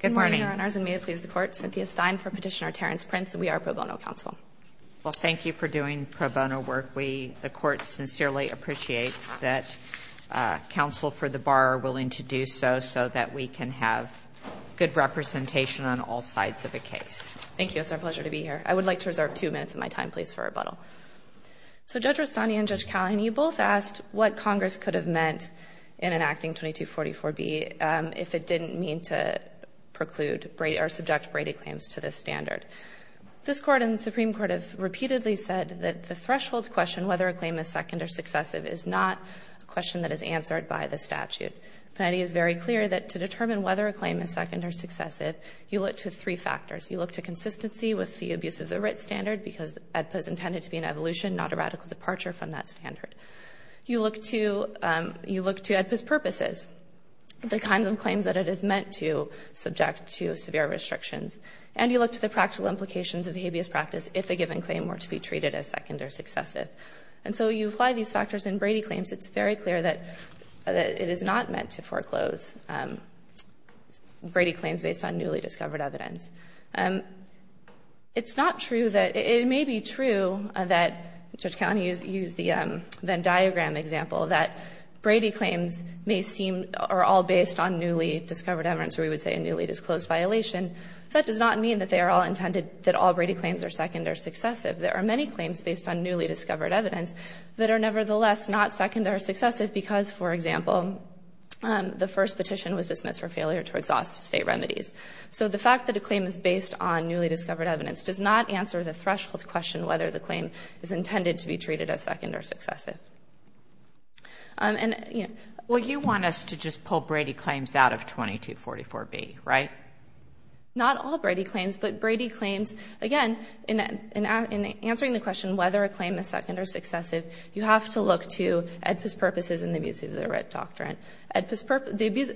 Good morning, Your Honors, and may it please the Court, Cynthia Stein for Petitioner Terrence Prince, and we are pro bono counsel. Well, thank you for doing pro bono work. The Court sincerely appreciates that counsel for the bar are willing to do so, so that we can have good representation on all sides of the case. Thank you. It's our pleasure to be here. I would like to reserve two minutes of my time, please, for rebuttal. So, Judge Rustani and Judge Callahan, you both asked what preclude or subject Brady claims to this standard. This Court and the Supreme Court have repeatedly said that the threshold question, whether a claim is second or successive, is not a question that is answered by the statute. The penalty is very clear that to determine whether a claim is second or successive, you look to three factors. You look to consistency with the abuse of the writ standard, because AEDPA is intended to be an evolution, not a radical departure from that standard. You look to AEDPA's purposes, the kinds of claims that it is meant to subject to severe restrictions. And you look to the practical implications of habeas practice if a given claim were to be treated as second or successive. And so you apply these factors in Brady claims. It's very clear that it is not meant to foreclose Brady claims based on newly discovered evidence. It's not true that, it may be true that Judge Callahan used the Venn standard, that Brady claims may seem, are all based on newly discovered evidence, or we would say a newly disclosed violation. That does not mean that they are all intended, that all Brady claims are second or successive. There are many claims based on newly discovered evidence that are nevertheless not second or successive, because, for example, the first petition was dismissed for failure to exhaust state remedies. So the fact that a claim is based on newly discovered evidence does not answer the threshold to question whether the claim is intended to be treated as second or successive. And, you know. Kagan. Well, you want us to just pull Brady claims out of 2244B, right? Not all Brady claims, but Brady claims, again, in answering the question whether a claim is second or successive, you have to look to AEDPA's purposes and the abuse of the writ doctrine. AEDPA's purpose, the abuse,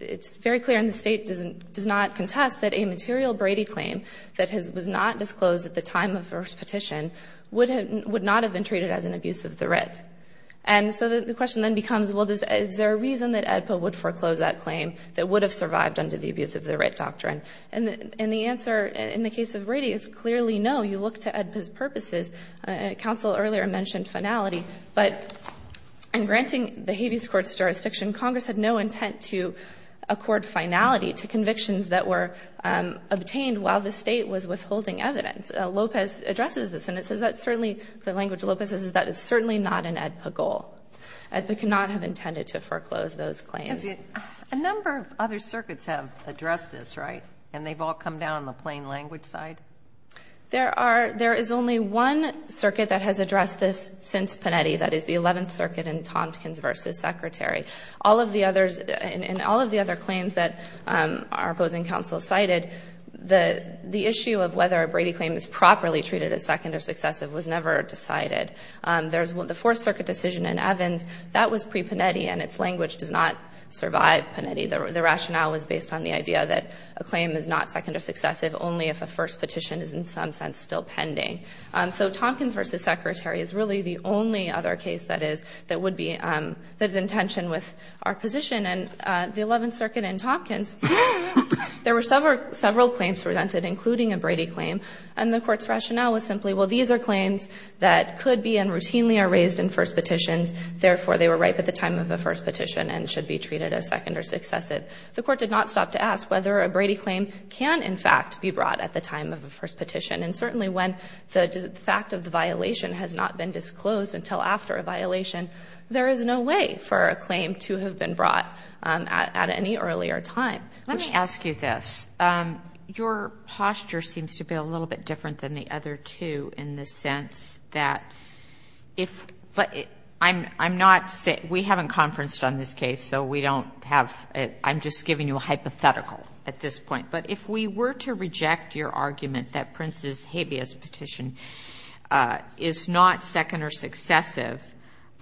it's very clear, and the State does not contest that a material Brady claim that was not disclosed at the time of the first petition would not have been treated as an abuse of the writ. And so the question then becomes, well, is there a reason that AEDPA would foreclose that claim that would have survived under the abuse of the writ doctrine? And the answer in the case of Brady is clearly no. You look to AEDPA's purposes. Counsel earlier mentioned finality. But in granting the Habeas Court's jurisdiction, Congress had no intent to accord finality to convictions that were obtained while the State was withholding evidence. Lopez addresses this, and it says that certainly, the language Lopez uses, that it's certainly not an AEDPA goal. AEDPA could not have intended to foreclose those claims. A number of other circuits have addressed this, right? And they've all come down on the plain language side? There are, there is only one circuit that has addressed this since Panetti, that is the Eleventh Circuit in Tompkins v. Secretary. All of the others, in all of the other claims that our opposing counsel cited, the issue of whether a Brady claim is properly treated as second or successive was never decided. There's the Fourth Circuit decision in Evans. That was pre-Panetti, and its language does not survive Panetti. The rationale was based on the idea that a claim is not second or successive only if a first petition is in some sense still pending. So Tompkins v. Secretary is really the only other case that is, that would be, that would be consistent with our position. And the Eleventh Circuit in Tompkins, there were several claims presented, including a Brady claim, and the Court's rationale was simply, well, these are claims that could be and routinely are raised in first petitions. Therefore, they were ripe at the time of a first petition and should be treated as second or successive. The Court did not stop to ask whether a Brady claim can, in fact, be brought at the time of a first petition. And certainly when the fact of the violation has not been brought at any earlier time. Let me ask you this. Your posture seems to be a little bit different than the other two in the sense that if, but I'm not saying, we haven't conferenced on this case, so we don't have, I'm just giving you a hypothetical at this point. But if we were to reject your argument that Prince's habeas petition is not second or successive,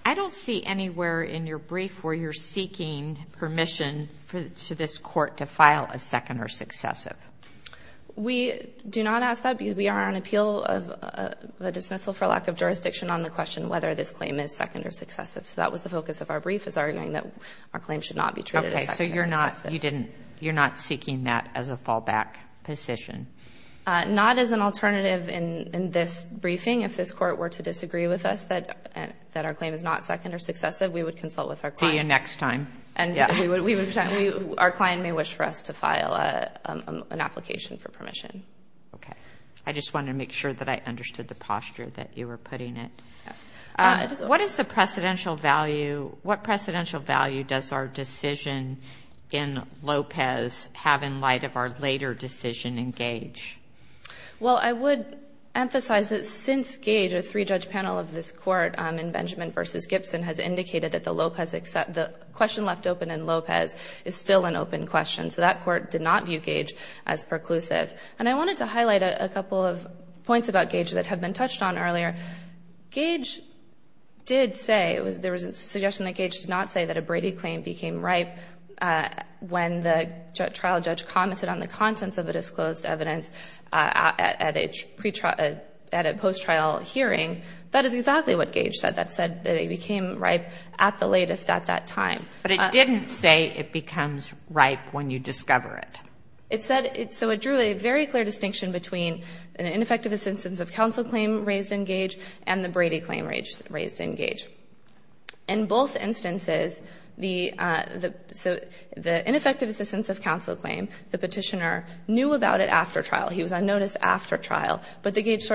I don't see anywhere in your brief where you're seeking permission for this Court to file a second or successive. We do not ask that because we are on appeal of a dismissal for lack of jurisdiction on the question whether this claim is second or successive. So that was the focus of our brief, was arguing that our claim should not be treated as second or successive. Okay. So you're not, you didn't, you're not seeking that as a fallback position? Not as an alternative in this briefing. If this Court were to disagree with us, that our claim is not second or successive, we would consult with our client. See you next time. And we would, we would, our client may wish for us to file an application for permission. Okay. I just wanted to make sure that I understood the posture that you were putting it. Yes. What is the precedential value, what precedential value does our decision in Lopez have in light of our later decision in Gage? Well, I would emphasize that since Gage, a three-judge panel of this Court in Benjamin v. Gibson has indicated that the Lopez, the question left open in Lopez is still an open question. So that Court did not view Gage as preclusive. And I wanted to highlight a couple of points about Gage that have been touched on earlier. Gage did say, there was a suggestion that Gage did not say that a Brady claim became ripe when the trial judge commented on the contents of the disclosed evidence at a post-trial hearing. That is exactly what Gage said. That said that it became ripe at the latest at that time. But it didn't say it becomes ripe when you discover it. It said, so it drew a very clear distinction between an ineffective assistance of counsel claim raised in Gage and the Brady claim raised in Gage. In both instances, the ineffective assistance of counsel claim, the petitioner knew about it after trial. He was on notice after trial. But the Gage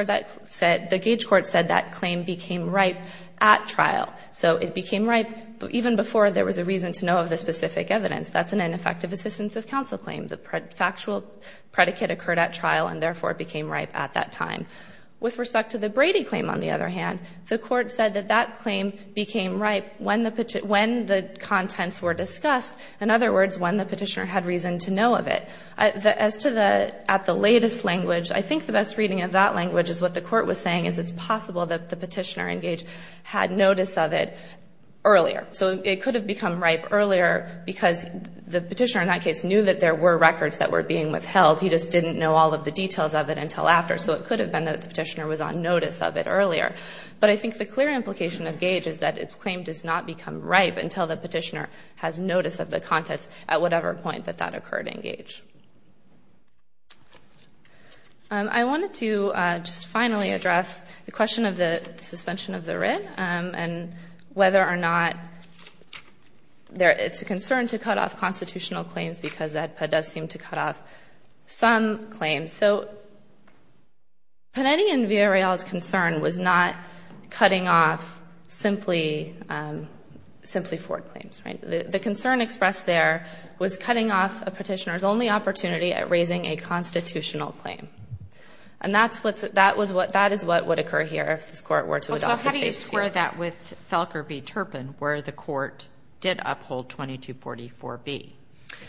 Court said that claim became ripe at trial. So it became ripe even before there was a reason to know of the specific evidence. That's an ineffective assistance of counsel claim. The factual predicate occurred at trial and therefore became ripe at that time. With respect to the Brady claim, on the other hand, the Court said that that claim became ripe when the contents were discussed. In other words, when the at the latest language, I think the best reading of that language is what the Court was saying is it's possible that the petitioner in Gage had notice of it earlier. So it could have become ripe earlier because the petitioner in that case knew that there were records that were being withheld. He just didn't know all of the details of it until after. So it could have been that the petitioner was on notice of it earlier. But I think the clear implication of Gage is that its claim does not become ripe until the petitioner has notice of the contents at whatever point that that occurred in Gage. I wanted to just finally address the question of the suspension of the writ and whether or not it's a concern to cut off constitutional claims because that does seem to cut off some claims. So Panetti and Villareal's concern was not cutting off simply forward claims. The concern expressed there was cutting off a petitioner's only opportunity at raising a constitutional claim. And that is what would occur here if this Court were to adopt the State's view. So how do you square that with Felker v. Turpin where the Court did uphold 2244b?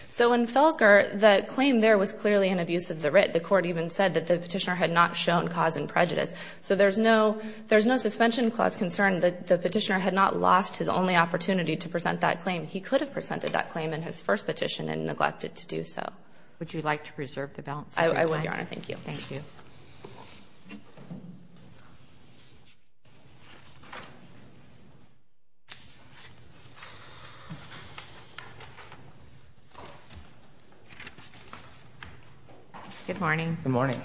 So in Felker, the claim there was clearly an abuse of the writ. The Court even said that the petitioner had not shown cause and prejudice. So there's no suspension clause concern. The petitioner had not lost his only opportunity to present that claim. He could have presented that claim in his first petition and neglected to do so. Would you like to preserve the balance of your time? I would, Your Honor. Thank you. Thank you. Good morning. Good morning.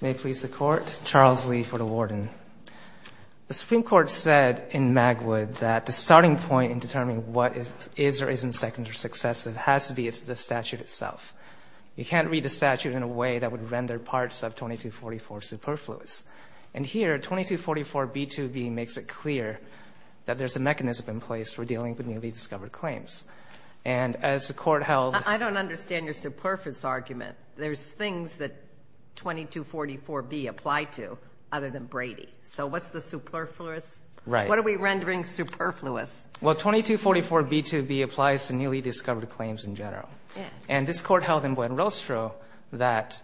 May it please the Court. Charles Lee for the Warden. The Supreme Court said in Magwood that the starting point in determining what is or isn't second or successive has to be the statute itself. You can't read a statute in a way that would render parts of 2244 superfluous. And here, 2244b2b makes it clear that there's a mechanism in place for dealing with newly discovered claims. And as the Court held — I don't understand your superfluous argument. There's things that 2244b apply to other than Brady. So what's the superfluous? Right. What are we rendering superfluous? Well, 2244b2b applies to newly discovered claims in general. Yeah. And this Court held in Buen Rostro that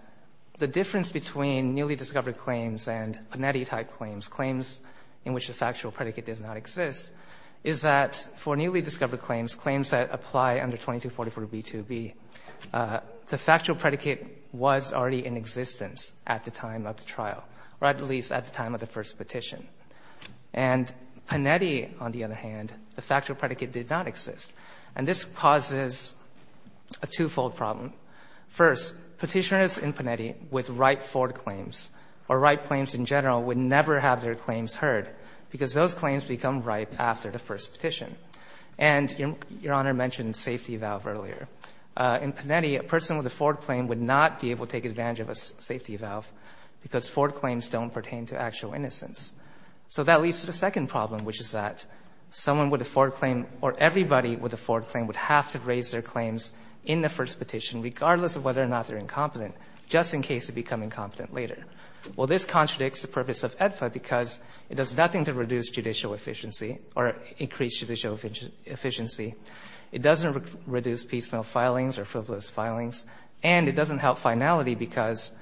the difference between newly discovered claims and Panetti-type claims, claims in which the factual predicate does not exist, is that for newly discovered claims, claims that apply under 2244b2b, the factual predicate was already in existence at the time of the trial, or at least at the time of the first petition. And Panetti, on the other hand, the factual predicate did not exist. And this causes a twofold problem. First, petitioners in Panetti with ripe Ford claims, or ripe claims in general, would never have their claims heard because those claims become ripe after the trial or after the first petition. And Your Honor mentioned safety valve earlier. In Panetti, a person with a Ford claim would not be able to take advantage of a safety valve because Ford claims don't pertain to actual innocence. So that leads to the second problem, which is that someone with a Ford claim or everybody with a Ford claim would have to raise their claims in the first petition, regardless of whether or not they're incompetent, just in case they become incompetent later. Well, this contradicts the purpose of AEDFA because it does nothing to reduce judicial efficiency or increase judicial efficiency. It doesn't reduce piecemeal filings or frivolous filings. And it doesn't help finality because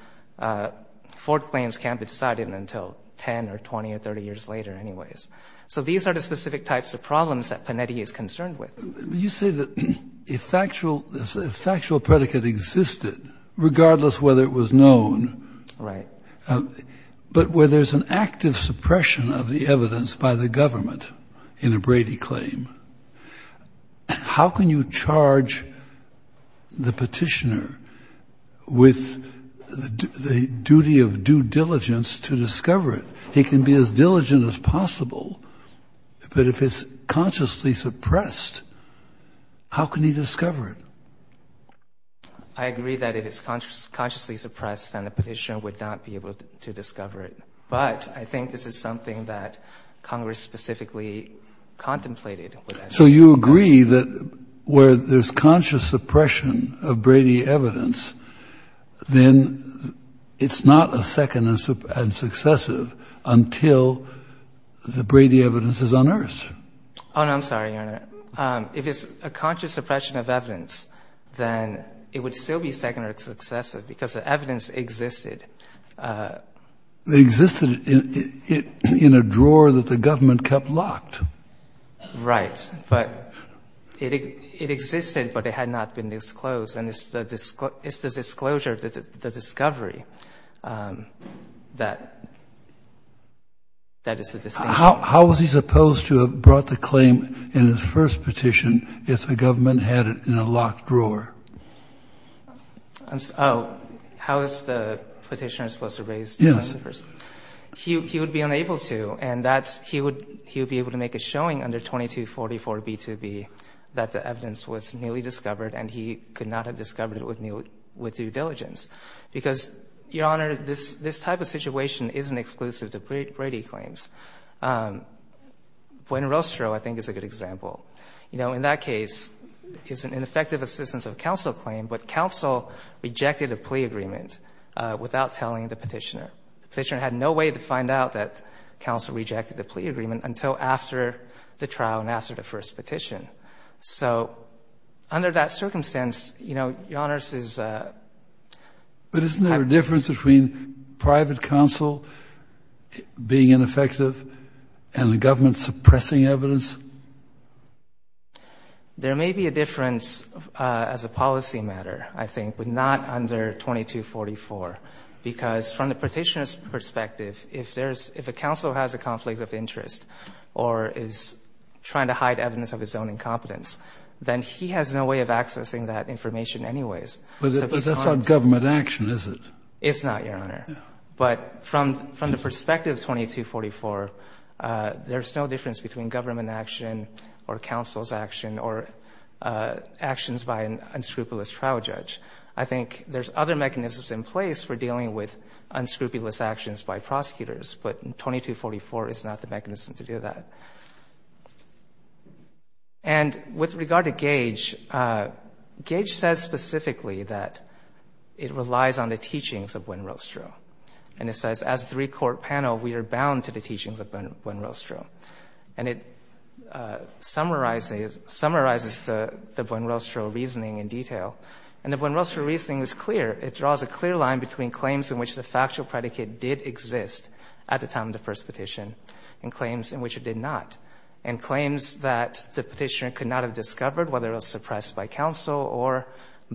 Ford claims can't be decided until 10 or 20 or 30 years later, anyways. So these are the specific types of problems that Panetti is concerned with. Kennedy. You say that if factual predicate existed, regardless of whether it was known. Right. But where there's an active suppression of the evidence by the government in a Brady claim, how can you charge the petitioner with the duty of due diligence to discover it? He can be as diligent as possible, but if it's consciously suppressed, how can he discover it? I agree that if it's consciously suppressed, then the petitioner would not be able to discover it. But I think this is something that Congress specifically contemplated. So you agree that where there's conscious suppression of Brady evidence, then it's not a second and successive until the Brady evidence is unearthed? Oh, no. I'm sorry, Your Honor. If it's a conscious suppression of evidence, then it would still be second and successive because the evidence existed. It existed in a drawer that the government kept locked. Right. But it existed, but it had not been disclosed. And it's the disclosure, the discovery that is the distinction. How was he supposed to have brought the claim in his first petition if the government hadn't had it in a locked drawer? Oh, how is the petitioner supposed to raise the claim? Yes. He would be unable to. And he would be able to make a showing under 2244B2B that the evidence was newly discovered and he could not have discovered it with due diligence. Because, Your Honor, this type of situation isn't exclusive to Brady claims. Gwen Rostrow, I think, is a good example. You know, in that case, it's an ineffective assistance of counsel claim, but counsel rejected a plea agreement without telling the petitioner. The petitioner had no way to find out that counsel rejected the plea agreement until after the trial and after the first petition. So under that circumstance, you know, Your Honor, this is a type of thing. Is counsel being ineffective and the government suppressing evidence? There may be a difference as a policy matter, I think, but not under 2244. Because from the petitioner's perspective, if there's — if a counsel has a conflict of interest or is trying to hide evidence of his own incompetence, then he has no way of accessing that information anyways. But that's not government action, is it? It's not, Your Honor. No. But from the perspective of 2244, there's no difference between government action or counsel's action or actions by an unscrupulous trial judge. I think there's other mechanisms in place for dealing with unscrupulous actions by prosecutors, but 2244 is not the mechanism to do that. And with regard to Gage, Gage says specifically that it relies on the teaching of Buen Rostro. And it says, as a three-court panel, we are bound to the teachings of Buen Rostro. And it summarizes the Buen Rostro reasoning in detail. And the Buen Rostro reasoning is clear. It draws a clear line between claims in which the factual predicate did exist at the time of the first petition and claims in which it did not, and claims that the petitioner could not have discovered, whether it was suppressed by counsel or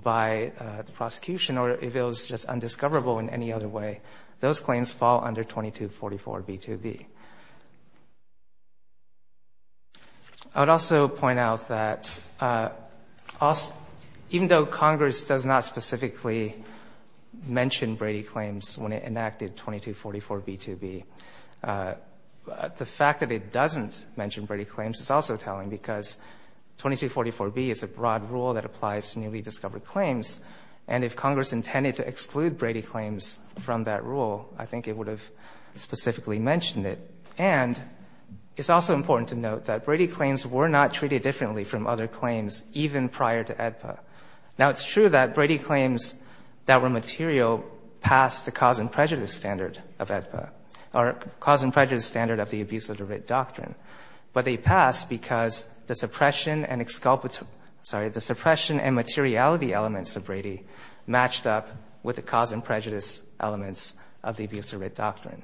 by the prosecution or if it was just undiscoverable in any other way, those claims fall under 2244b2b. I would also point out that even though Congress does not specifically mention Brady claims when it enacted 2244b2b, the fact that it doesn't mention Brady claims is also compelling, because 2244b is a broad rule that applies to newly discovered claims. And if Congress intended to exclude Brady claims from that rule, I think it would have specifically mentioned it. And it's also important to note that Brady claims were not treated differently from other claims even prior to AEDPA. Now, it's true that Brady claims that were material passed the cause and prejudice standard of AEDPA doctrine, but they passed because the suppression and materiality elements of Brady matched up with the cause and prejudice elements of the abuse of writ doctrine.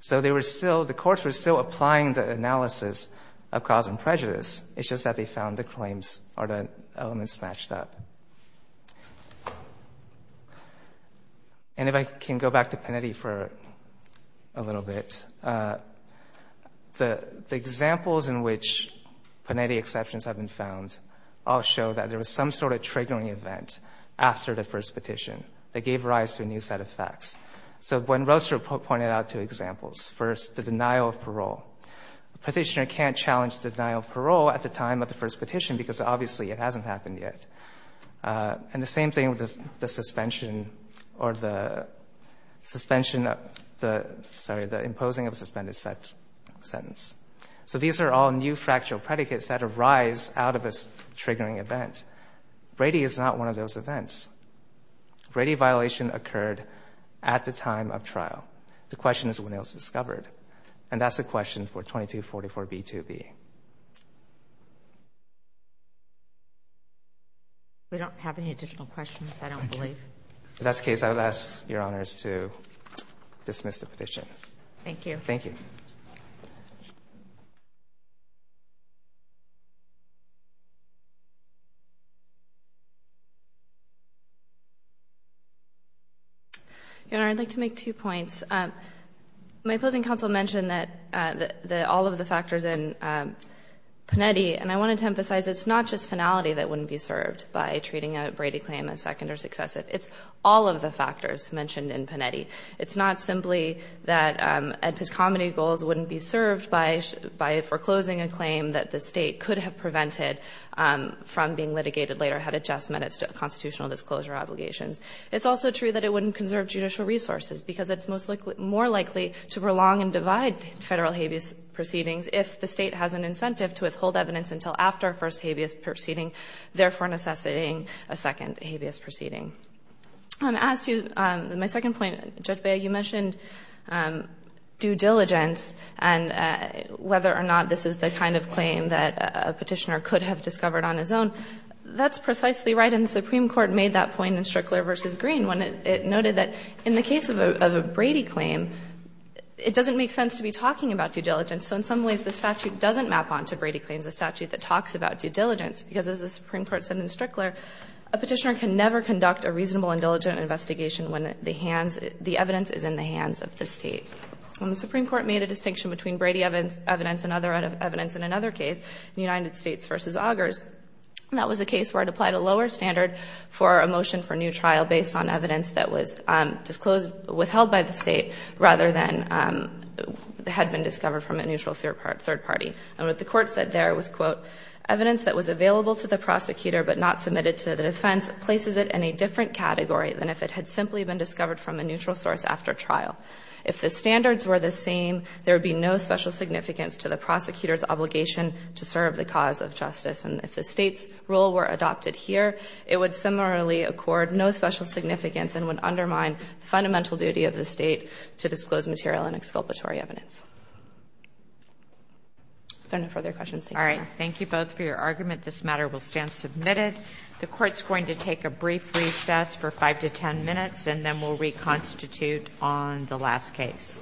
So the courts were still applying the analysis of cause and prejudice. It's just that they found the claims or the elements matched up. And if I can go back to Pennedy for a little bit, the example of Brady claims and the examples in which Pennedy exceptions have been found all show that there was some sort of triggering event after the first petition that gave rise to a new set of facts. So when Roaster pointed out two examples. First, the denial of parole. A petitioner can't challenge the denial of parole at the time of the first petition because obviously it hasn't happened yet. And the same thing with the suspension or the suspension of the, sorry, the imposing of a suspended sentence. So these are all new fractional predicates that arise out of this triggering event. Brady is not one of those events. Brady violation occurred at the time of trial. The question is when it was discovered. And that's the question for 2244B2B. We don't have any additional questions, I don't believe. That's the case. I'll ask your honors to dismiss the petition. Thank you. Thank you. And I'd like to make two points. My opposing counsel mentioned that all of the factors in Pennedy, and I wanted to emphasize it's not just finality that wouldn't be served by treating a Brady claim as second or successive. It's all of the factors mentioned in Pennedy. It's not simply that Edpis comedy goals wouldn't be served by foreclosing a claim that the state could have prevented from being litigated later had it just met its constitutional disclosure obligations. It's also true that it wouldn't conserve judicial resources because it's more likely to prolong and divide federal habeas proceedings if the state has an incentive to withhold evidence until after a first habeas proceeding, therefore necessitating a second habeas proceeding. As to my second point, Judge Beyer, you mentioned due diligence and whether or not this is the kind of claim that a petitioner could have discovered on his own. That's precisely right, and the Supreme Court made that point in Strickler v. Green when it noted that in the case of a Brady claim, it doesn't make sense to be talking about due diligence. So in some ways, the statute doesn't map on to Brady claims, a statute that talks about due diligence, because as the Supreme Court said in Strickler, a petitioner can never conduct a reasonable and diligent investigation when the evidence is in the hands of the state. When the Supreme Court made a distinction between Brady evidence and other evidence in another case, the United States v. Augers, that was a case where it applied a lower standard for a motion for new trial based on evidence that was withheld by the state rather than had been discovered from a neutral third party. And what the Court said there was, quote, evidence that was available to the prosecutor but not submitted to the defense places it in a different category than if it had simply been discovered from a neutral source after trial. If the standards were the same, there would be no special significance to the prosecutor's obligation to serve the cause of justice. And if the state's rule were adopted here, it would similarly accord no special significance and would undermine the fundamental duty of the state to disclose material and exculpatory evidence. If there are no further questions, thank you, Your Honor. Thank you both for your argument. This matter will stand submitted. The Court's going to take a brief recess for 5 to 10 minutes, and then we'll reconstitute on the last case.